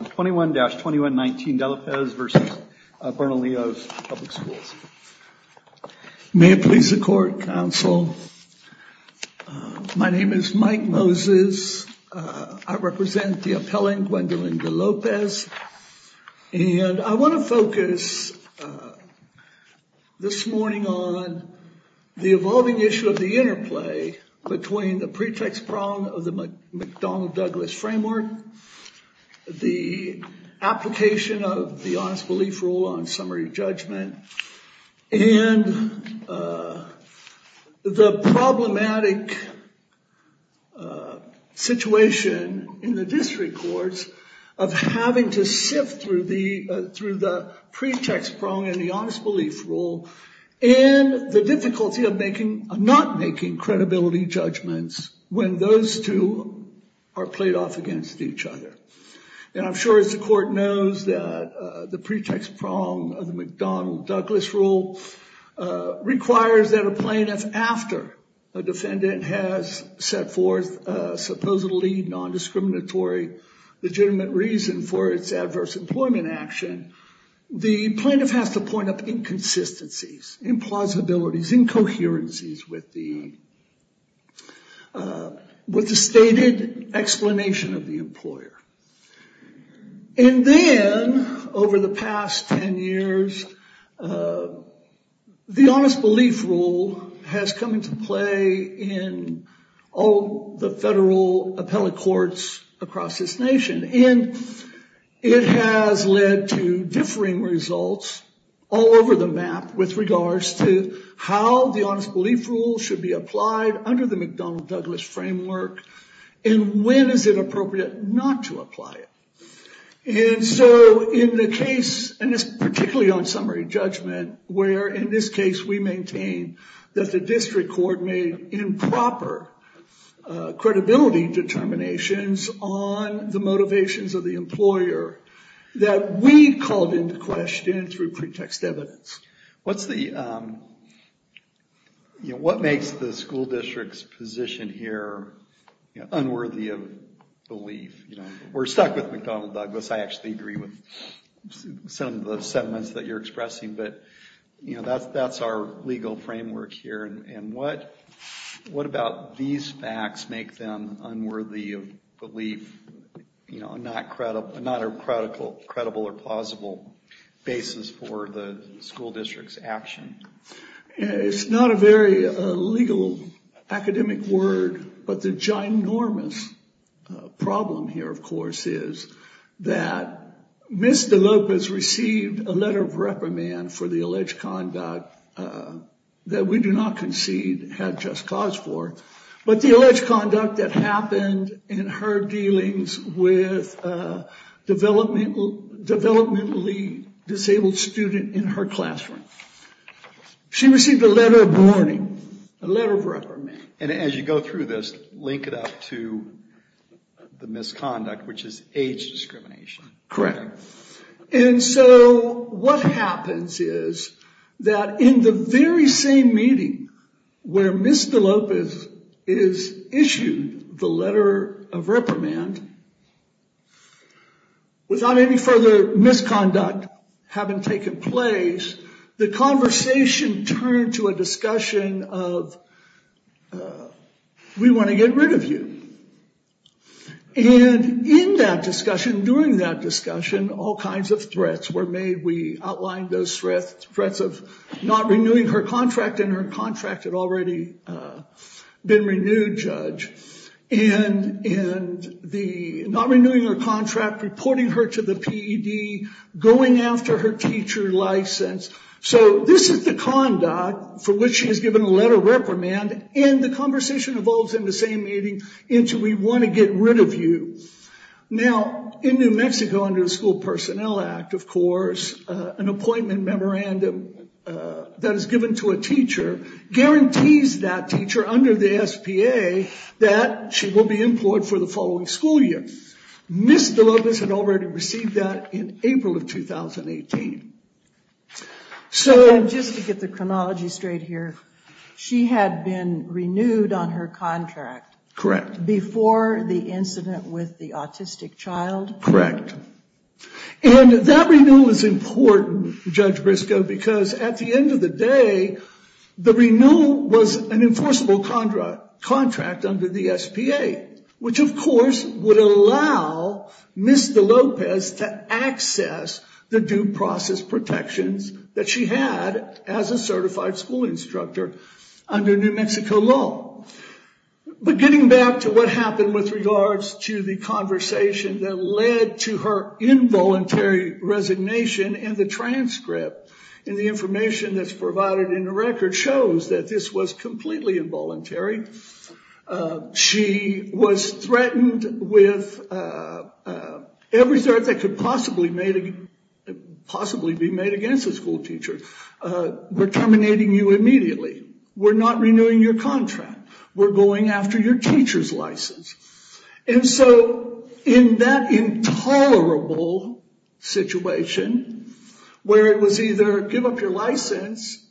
May it please the Court, Counsel, my name is Mike Moses, I represent the appellant Gwendolyn DeLopez and I want to focus this morning on the evolving issue of the interplay between the pretext prong of the McDonnell-Douglas framework, the application of the Honest Belief Rule on summary judgment, and the problematic situation in the district courts of having to sift through the pretext prong in the Honest Belief Rule and the difficulty of not making credibility judgments when those two are played off against each other. And I'm sure as the Court knows that the pretext prong of the McDonnell-Douglas rule requires that a plaintiff, after a defendant has set forth a supposedly non-discriminatory legitimate reason for its adverse employment action, the plaintiff has to point up inconsistencies, implausibilities, incoherencies with the stated explanation of the employer. And then over the past 10 years, the Honest Belief Rule has come into play in all the federal appellate courts across this nation. And it has led to differing results all over the map with regards to how the Honest Belief Rule should be applied under the McDonnell-Douglas framework and when is it appropriate not to apply it. And so in the case, and this particularly on summary judgment, where in this case we maintain that the district court made improper credibility determinations on the motivations of the employer that we called into question through pretext evidence. What's the, you know, what makes the school district's position here unworthy of belief? We're stuck with McDonnell-Douglas. I actually agree with some of the sentiments that you're That's our legal framework here. And what about these facts make them unworthy of belief, you know, not a credible or plausible basis for the school district's action? It's not a very legal academic word, but the ginormous problem here, of course, is that Ms. DeLopez received a letter of reprimand for the alleged conduct that we do not concede had just cause for, but the alleged conduct that happened in her dealings with a developmentally disabled student in her classroom. She received a letter of warning, a letter of reprimand. And as you go through this, link it up to the misconduct, which is age discrimination. Correct. And so what happens is that in the very same meeting where Ms. DeLopez is issued the letter of reprimand, without any further misconduct having taken place, the conversation turned to a discussion of, we want to get rid of you. And in that discussion, during that discussion, all kinds of threats were made. We outlined those threats of not renewing her contract, and her contract had already been renewed, Judge. And the not renewing her contract, reporting her to the PED, going after her teacher license. So this is the conduct for which she has given a letter of reprimand, and the conversation evolves in the same meeting into, we want to get rid of you. Now in New Mexico, under the School Personnel Act, of course, an appointment memorandum that is given to a teacher guarantees that teacher under the SPA that she will be employed for the following school year. Ms. DeLopez had already received that in April of 2018. So just to get the chronology straight here, she had been renewed on her contract. Correct. Before the incident with the autistic child. Correct. And that renewal is important, Judge Briscoe, because at the end of the day, the renewal was an enforceable contract contract under the SPA, which of course would allow Ms. DeLopez to access the due process protections that she had as a certified school instructor under New Mexico law. But getting back to what happened with regards to the conversation that led to her involuntary resignation, and the transcript, and the information that's provided in the record shows that this was completely involuntary. She was threatened with every threat that could possibly be made against a school teacher. We're terminating you immediately. We're not renewing your contract. We're going after your teacher's license. And so in that intolerable situation, where it was either give up your license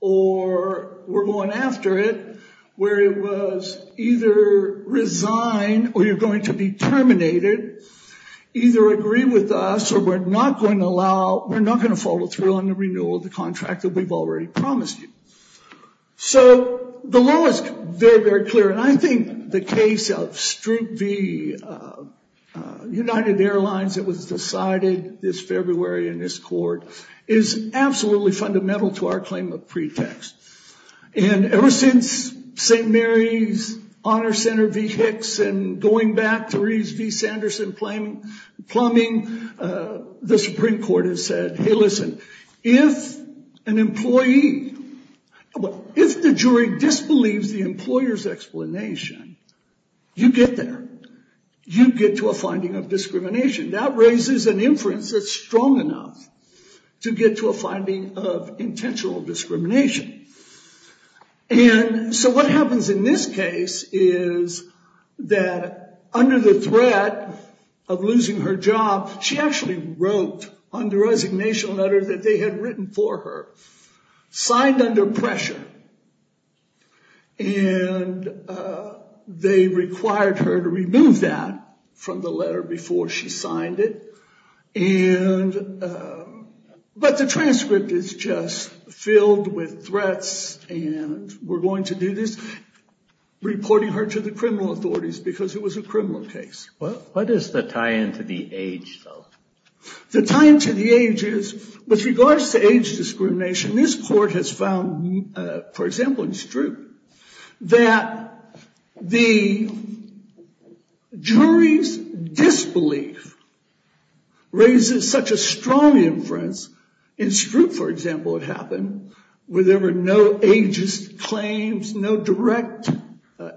or we're going after it, where it was either resign or you're going to be terminated, either agree with us or we're not going to allow, we're not going to follow through on the renewal of the contract that we've already promised you. So the law is very, very clear. And I think the case of Stroop v. United Airlines that was decided this February in this court is absolutely fundamental to our claim of pretext. And ever since St. Mary's Honor Center v. Hicks and going back to Reeves v. Sanderson plumbing, the Supreme Court has said, hey listen, if an employee, if the jury disbelieves the employer's explanation, you get there. You get to a finding of discrimination. That raises an inference that's And so what happens in this case is that under the threat of losing her job, she actually wrote on the resignation letter that they had written for her, signed under pressure. And they required her to remove that from the letter before she signed it. And but the transcript is just filled with threats and we're going to do this, reporting her to the criminal authorities because it was a criminal case. What is the tie-in to the age though? The tie-in to the age is, with regards to age discrimination, this court has found, for example, in Stroop, that the jury's disbelief raises such a strong inference. In Stroop, for example, it happened where there were no ageist claims, no direct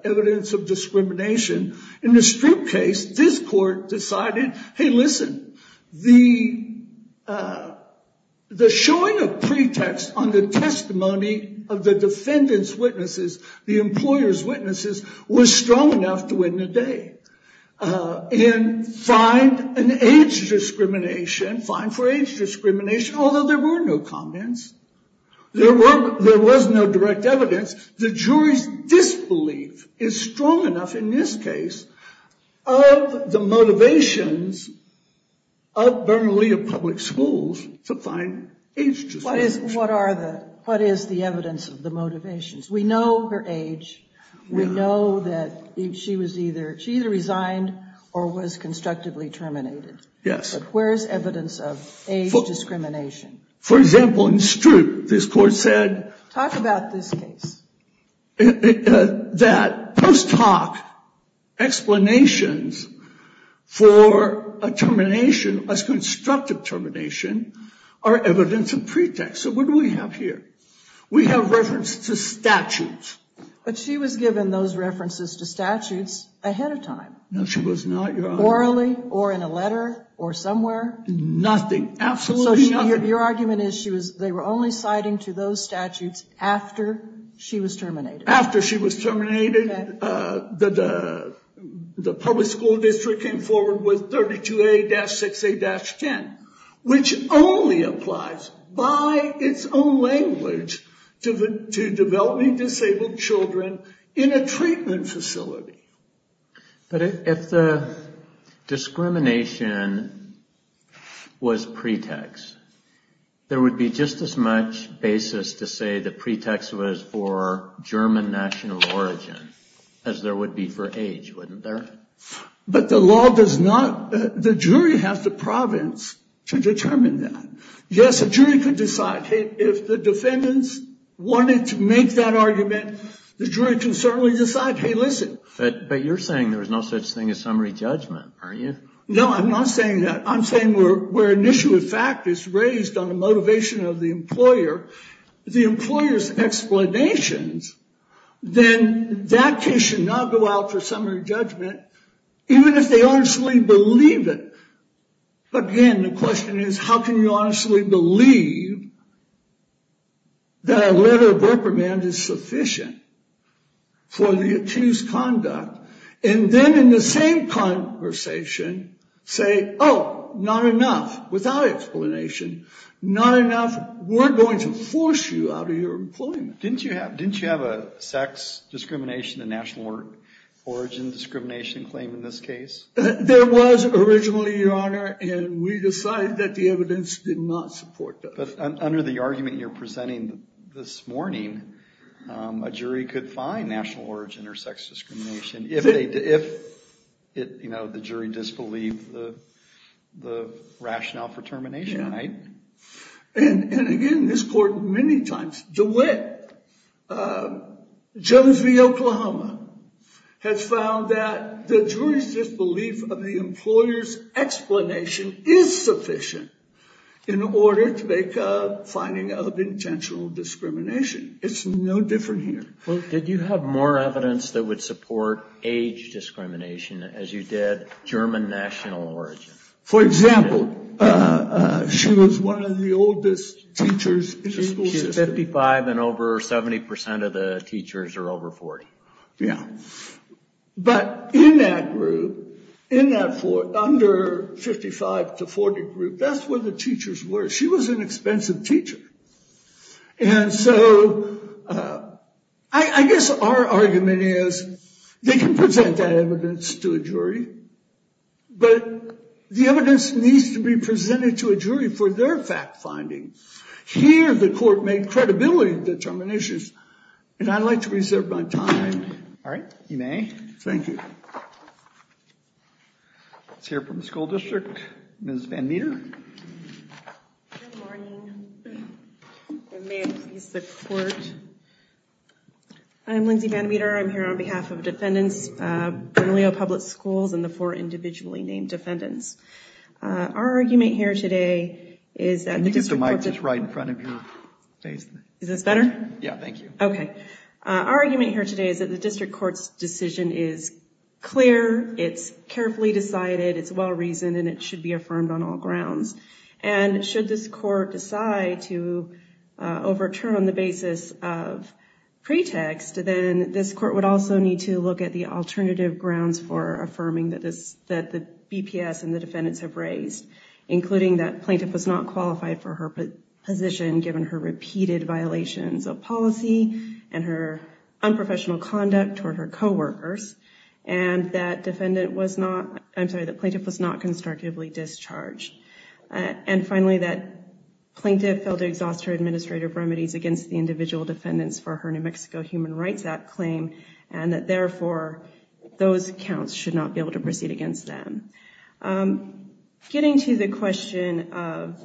evidence of discrimination. In the Stroop case, this court decided, hey listen, the showing of pretext on the testimony of the defendant's witnesses, the employer's witnesses, was strong enough to win the day. And find an age discrimination, fine for age discrimination, although there were no comments. There was no direct evidence. The jury's disbelief is strong in this case of the motivations of Bernalillo Public Schools to find age discrimination. What are the, what is the evidence of the motivations? We know her age. We know that she was either, she either resigned or was constructively terminated. Yes. Where's evidence of age discrimination? For example, in Stroop, this court said. Talk about this case. It, that post hoc explanations for a termination, a constructive termination, are evidence of pretext. So what do we have here? We have reference to statutes. But she was given those references to statutes ahead of time. No, she was not, Your Honor. Orally, or in a letter, or somewhere. Nothing, absolutely nothing. Your argument is she was, they were only citing to those statutes after she was terminated. After she was terminated, the public school district came forward with 32A-6A-10, which only applies by its own language to developing disabled children in a treatment facility. But if the discrimination was pretext, there would be just as much basis to say the pretext was for German national origin as there would be for age, wouldn't there? But the law does not, the jury has the province to determine that. Yes, a jury could decide, hey, if the defendants wanted to make that argument, the jury can certainly decide, hey, listen. But you're saying there's no such thing as summary judgment, aren't you? No, I'm not saying that. I'm saying where an issue of fact is raised on the motivation of the employer, the employer's explanations, then that case should not go out for summary judgment, even if they honestly believe it. But again, the question is, how can you honestly believe that a letter of work demand is sufficient for the accused conduct, and then in the same conversation say, oh, not enough, without explanation, not enough, we're going to force you out of your employment. Didn't you have a sex discrimination and national origin discrimination claim in this case? There was originally, Your Honor, and we decided that the evidence did not support that. Under the argument you're presenting this morning, a jury could find national origin or sex discrimination if the jury disbelieved the rationale for termination, right? And again, this court many times, DeWitt, Jones v. Oklahoma, has found that the jury's disbelief of the employer's explanation is sufficient in order to make a finding of intentional discrimination. It's no different here. Well, did you have more evidence that would support age discrimination as you did German national origin? For example, she was one of the oldest teachers in the school system. She's 55, and over 70% of the teachers are over 40. Yeah, but in that group, in that under 55 to 40 group, that's where the teachers were. She was an expensive teacher. And so I guess our argument is they can present that evidence to a jury, but the evidence needs to be presented to a jury for their fact-finding. Here, the court made credibility determinations, and I'd like to reserve my time. All right, you may. Thank you. Let's hear from the school district. Ms. Van Meter. Good morning. And may it please the court. I'm Lindsay Van Meter. I'm here on behalf of defendants, Bernalillo Public Schools, and the four individually named defendants. Our argument here today is that the district court's decision is clear, it's carefully decided, it's well-reasoned, and it should be affirmed on all grounds. And should this court decide to overturn on the basis of pretext, then this court would also need to look at the alternative grounds for affirming that the BPS and the defendants have raised, including that plaintiff was not qualified for her position given her repeated violations of policy and her unprofessional conduct toward her co-workers, and that plaintiff was not constructively discharged. And finally, that plaintiff failed to exhaust her administrative remedies against the individual defendants for her New Mexico Human Rights Act claim, and that therefore, those counts should not be able to proceed against them. Getting to the question of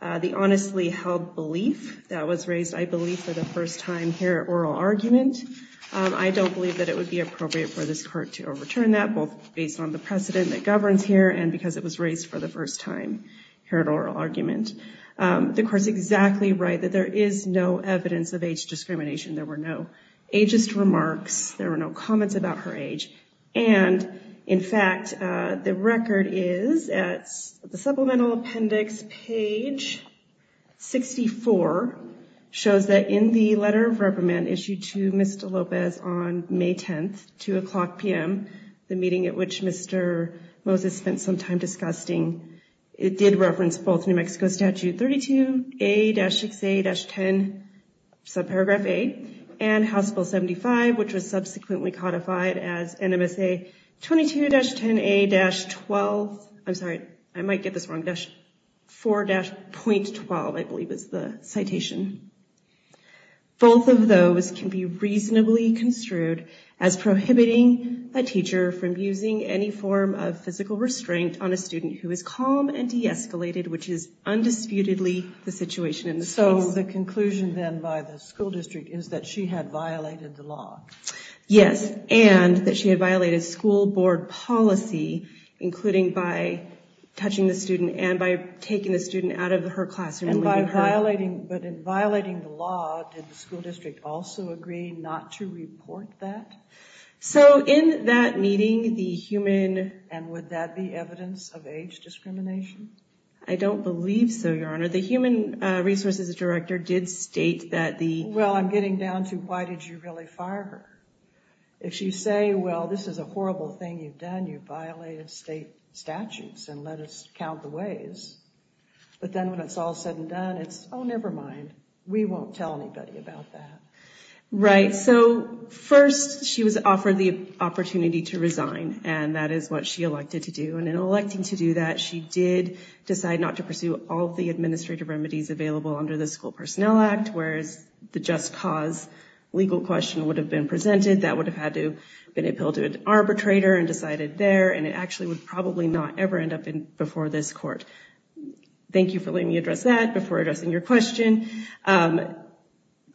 the honestly held belief that was raised, I believe, for the first time here at oral argument, I don't believe that it would be appropriate for this court to overturn that, both based on the precedent that governs here, and because it was raised for the first time here at oral argument. The court's exactly right that there is no evidence of age discrimination. There were no ageist remarks. There were no comments about her age. And in fact, the record is at the supplemental appendix page 64, shows that in the letter of reprimand issued to Mr. Lopez on May 10th, 2 o'clock p.m., the meeting at which Mr. Moses spent some time discussing, it did reference both New Mexico Statute 32A-6A-10, subparagraph A, and House Bill 75, which was subsequently codified as NMSA 22-10A-12, I'm sorry, I might get this wrong, 4-.12, I believe is the citation. Both of those can be reasonably construed as prohibiting a teacher from using any form of physical restraint on a student who is calm and de-escalated, which is undisputedly the situation in this case. So the conclusion then by the school district is that she had violated the law? Yes, and that she had violated school board policy, including by touching the student and by taking the student out of her classroom. And by violating, but in violating the law, did the school district also agree not to report that? So in that meeting, the human, and would that be evidence of age discrimination? I don't believe so, Your Honor. The human resources director did state that the... Well, I'm getting down to why did you really fire her? If she say, well, this is a horrible thing you've done, you violated state statutes and let us count the ways. But then when it's all said and done, it's, oh, never mind. We won't tell anybody about that. Right, so first she was offered the opportunity to resign, and that is what she elected to do. And in electing to do that, she did decide not to pursue all the administrative remedies available under the School Personnel Act, whereas the just cause legal question would have been presented. That would have had to been appealed to an arbitrator and decided there, and it actually would probably not ever end up in before this court. Thank you for letting me address that before addressing your question.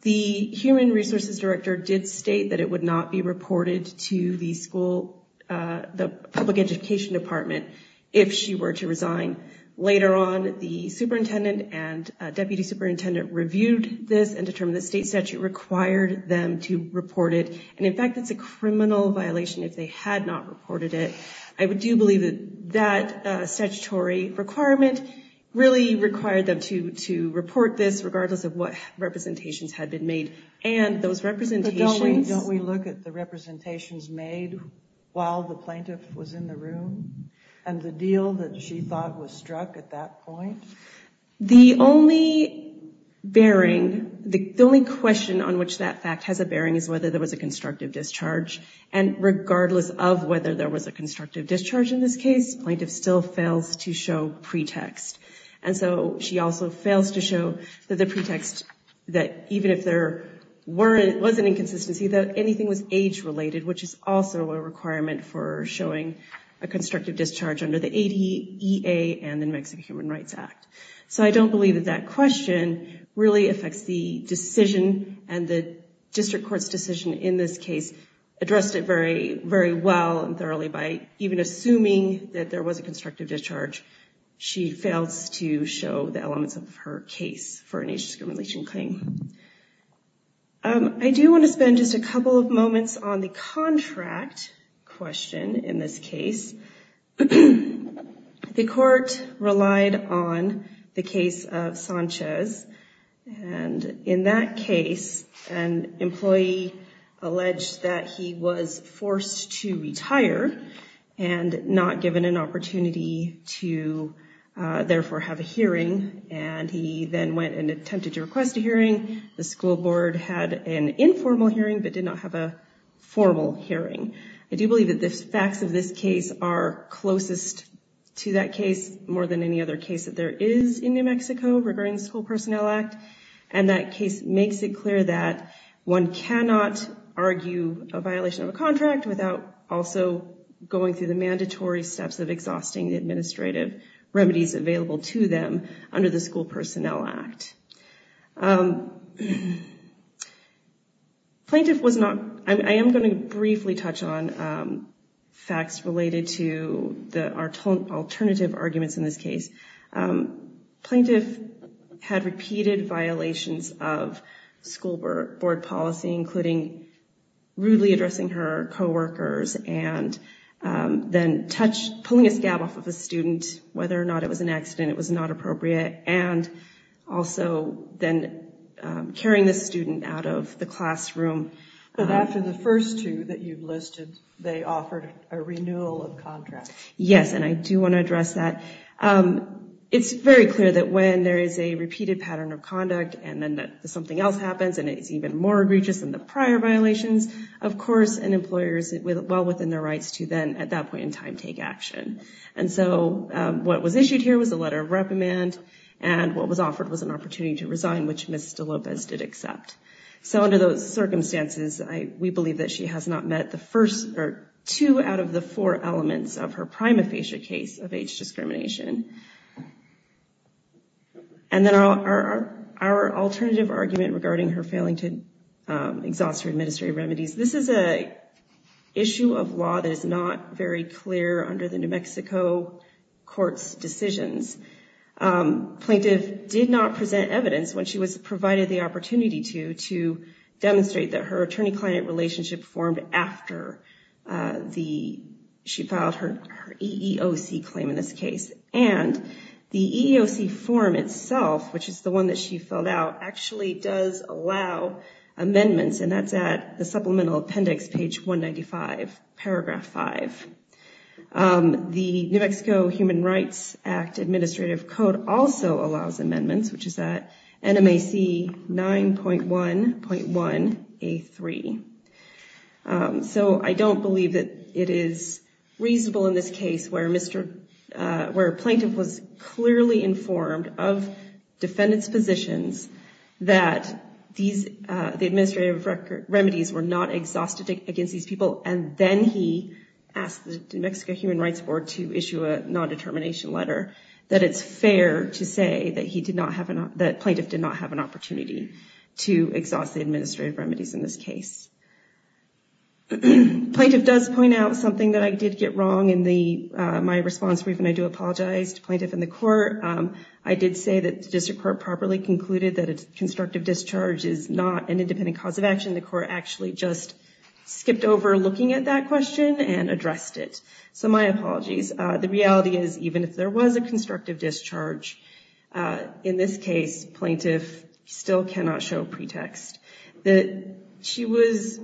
The human resources director did state that it would not be reported to the school, the public education department, if she were to resign. Later on, the superintendent and deputy superintendent reviewed this and determined the state statute required them to report it. And in fact, it's a criminal violation if they had not reported it. I would do believe that that statutory requirement really required them to report this, regardless of what representations had been made. And those representations... But don't we look at the representations made while the plaintiff was in the room? And the deal that she thought was struck at that point? The only bearing, the only question on which that fact has a bearing is whether there was a constructive discharge. And regardless of whether there was a constructive discharge in this case, plaintiff still fails to show pretext. And so she also fails to show that the pretext, that even if there was an inconsistency, that anything was age-related, which is also a requirement for showing a constructive discharge under the ADA and the Mexican Human Rights Act. So I don't believe that that question really affects the decision and the district court's decision in this case addressed it very, very well and thoroughly by even assuming that there was a constructive discharge. She fails to show the elements of her case for an age discrimination claim. I do want to spend just a couple of moments on the contract question in this case. The court relied on the case of Sanchez. And in that case, an employee alleged that he was forced to retire and not given an opportunity to therefore have a hearing. And he then went and attempted to request a hearing. The school board had an informal hearing but did not have a formal hearing. I do believe that the facts of this case are closest to that case more than any other case that there is in New Mexico regarding the School Personnel Act. And that case makes it clear that one cannot argue a violation of a contract without also going through the mandatory steps of exhausting the administrative remedies available to them under the School Personnel Act. Plaintiff was not, I am going to briefly touch on facts related to the alternative arguments in this case. Plaintiff had repeated violations of school board policy, including rudely addressing her co-workers, and then pulling a scab off of a student, whether or not it was an accident, it was not appropriate, and also then carrying the student out of the classroom. But after the first two that you've listed, they offered a renewal of contract. Yes, and I do want to address that. And then something else happens, and it's even more egregious than the prior violations, of course, and employers, well within their rights to then, at that point in time, take action. And so what was issued here was a letter of reprimand, and what was offered was an opportunity to resign, which Ms. De Lopez did accept. So under those circumstances, we believe that she has not met the first, or two out of the four elements of her prima facie case of age discrimination. And then our alternative argument regarding her failing to exhaust her administrative remedies. This is an issue of law that is not very clear under the New Mexico court's decisions. Plaintiff did not present evidence when she was provided the opportunity to to demonstrate that her attorney-client relationship formed after she filed her EEOC claim in this case. And the EEOC form itself, which is the one that she filled out, actually does allow amendments, and that's at the Supplemental Appendix, page 195, paragraph 5. The New Mexico Human Rights Act Administrative Code also allows amendments, which is at NMAC 9.1.1A3. So I don't believe that it is reasonable in this case where a plaintiff was clearly informed of defendant's positions that the administrative remedies were not exhausted against these people, and then he asked the New Mexico Human Rights Board to issue a non-determination letter, that it's fair to say that plaintiff did not have an opportunity to exhaust the administrative remedies in this case. Plaintiff does point out something that I did get wrong in my response brief, and I do apologize to plaintiff and the court. I did say that the district court properly concluded that a constructive discharge is not an independent cause of action. The court actually just skipped over looking at that question and addressed it. So my apologies. The reality is, even if there was a constructive discharge, in this case, plaintiff still cannot show pretext. She was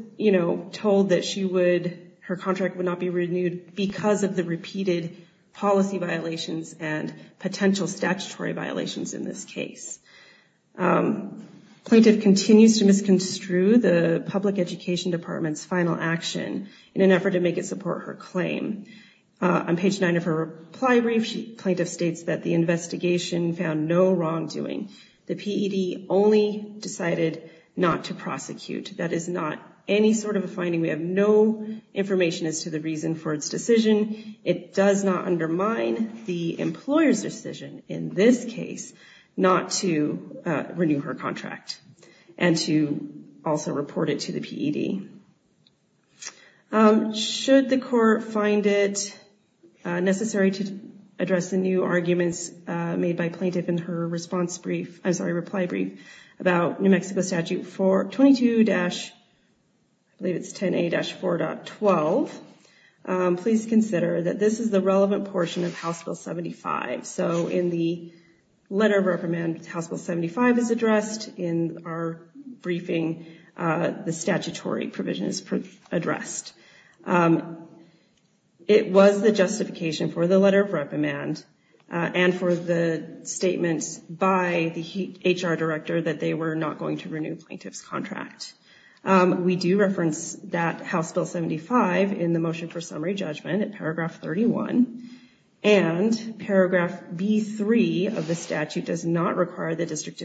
told that her contract would not be renewed because of the repeated policy violations and potential statutory violations in this case. Plaintiff continues to misconstrue the public education department's final action in an effort to make it support her claim. On page 9 of her reply brief, plaintiff states that the investigation found no wrongdoing. The PED only decided not to prosecute. That is not any sort of a finding. We have no information as to the reason for its decision. It does not undermine the employer's decision, in this case, not to renew her contract and to also report it to the PED. Should the court find it necessary to address the new arguments made by plaintiff in her reply brief about New Mexico Statute 22-10A-4.12, please consider that this is the relevant portion of House Bill 75. So in the letter of recommend, House Bill 75 is addressed in our briefing, the statutory provision is addressed. It was the justification for the letter of recommend and for the statements by the HR director that they were not going to renew plaintiff's contract. We do reference that House Bill 75 in the motion for summary judgment at paragraph 31 and paragraph B-3 of the statute does not require the district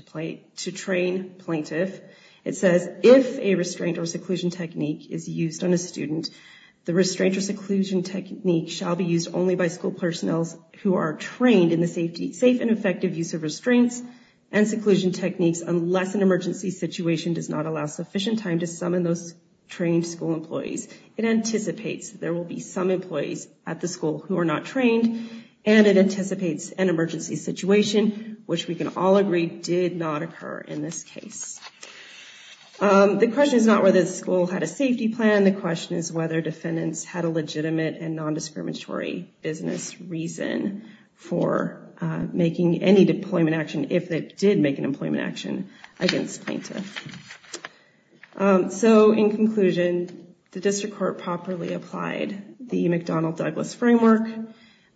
to train plaintiff. It says, if a restraint or seclusion technique is used on a student, the restraint or seclusion technique shall be used only by school personnel who are trained in the safe and effective use of restraints and seclusion techniques, unless an emergency situation does not allow sufficient time to summon those trained school employees. It anticipates there will be some employees at the school who are not trained and it anticipates an emergency situation, which we can all agree did not occur in this case. The question is not whether the school had a safety plan, the question is whether defendants had a legitimate and non-discriminatory business reason for making any deployment action if they did make an employment action against plaintiff. So in conclusion, the district court properly applied the McDonnell-Douglas framework.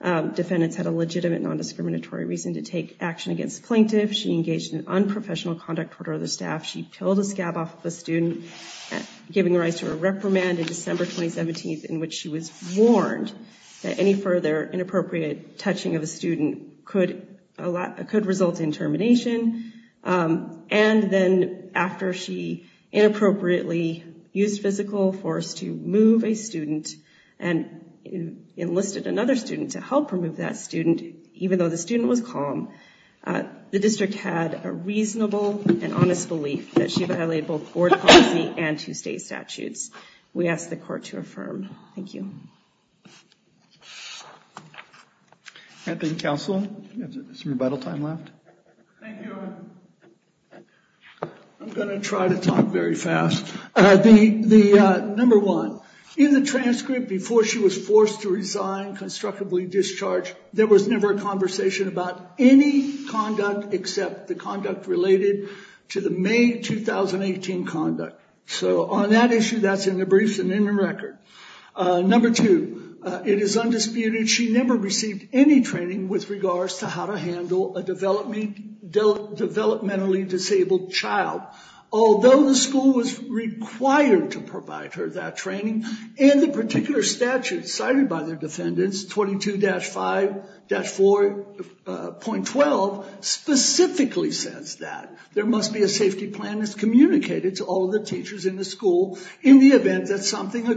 Defendants had a legitimate non-discriminatory reason to take action against plaintiff. She engaged in unprofessional conduct toward other staff. She pilled a scab off of a student, giving rise to a reprimand in December 2017, in which she was warned that any further inappropriate touching of a student could result in termination. And then after she inappropriately used physical force to move a student and enlisted another student to help remove that student, even though the student was calm, the district had a reasonable and honest belief that she violated both board policy and two-state statutes. We ask the court to affirm. Thank you. Thank you, counsel. We have some rebuttal time left. Thank you. I'm going to try to talk very fast. Number one, in the transcript before she was about any conduct except the conduct related to the May 2018 conduct. So on that issue, that's in the briefs and in the record. Number two, it is undisputed she never received any training with regards to how to handle a developmentally disabled child, although the school was required to provide her that training and the particular statute cited by the defendants, 22-5-4.12, specifically says that there must be a safety plan that's communicated to all the teachers in the school in the event that something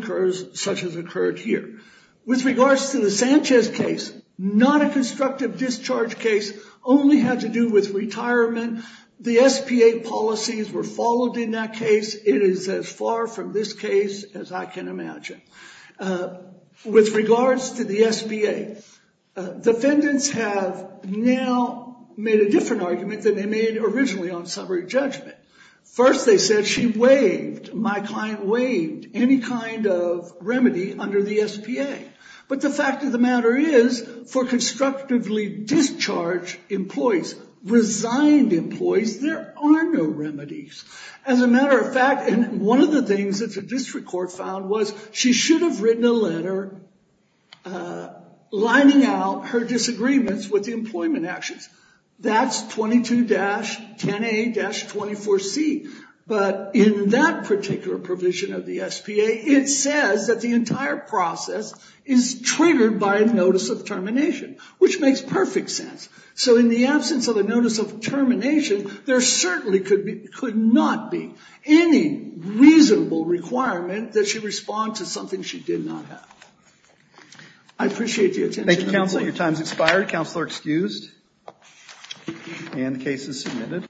such as occurred here. With regards to the Sanchez case, not a constructive discharge case, only had to do with retirement. The SPA policies were the SPA. Defendants have now made a different argument than they made originally on summary judgment. First, they said she waived, my client waived, any kind of remedy under the SPA. But the fact of the matter is, for constructively discharged employees, resigned employees, there are no remedies. As a matter of fact, and one of the things that the district court found was she should have written a letter lining out her disagreements with the employment actions. That's 22-10A-24C. But in that particular provision of the SPA, it says that the entire process is triggered by a notice of termination, which makes perfect sense. So in the absence of a notice of termination, there certainly could not be any reasonable requirement that she respond to something she did not have. I appreciate the attention. Thank you, counsel. Your time's expired. Counsel are excused and the case is submitted.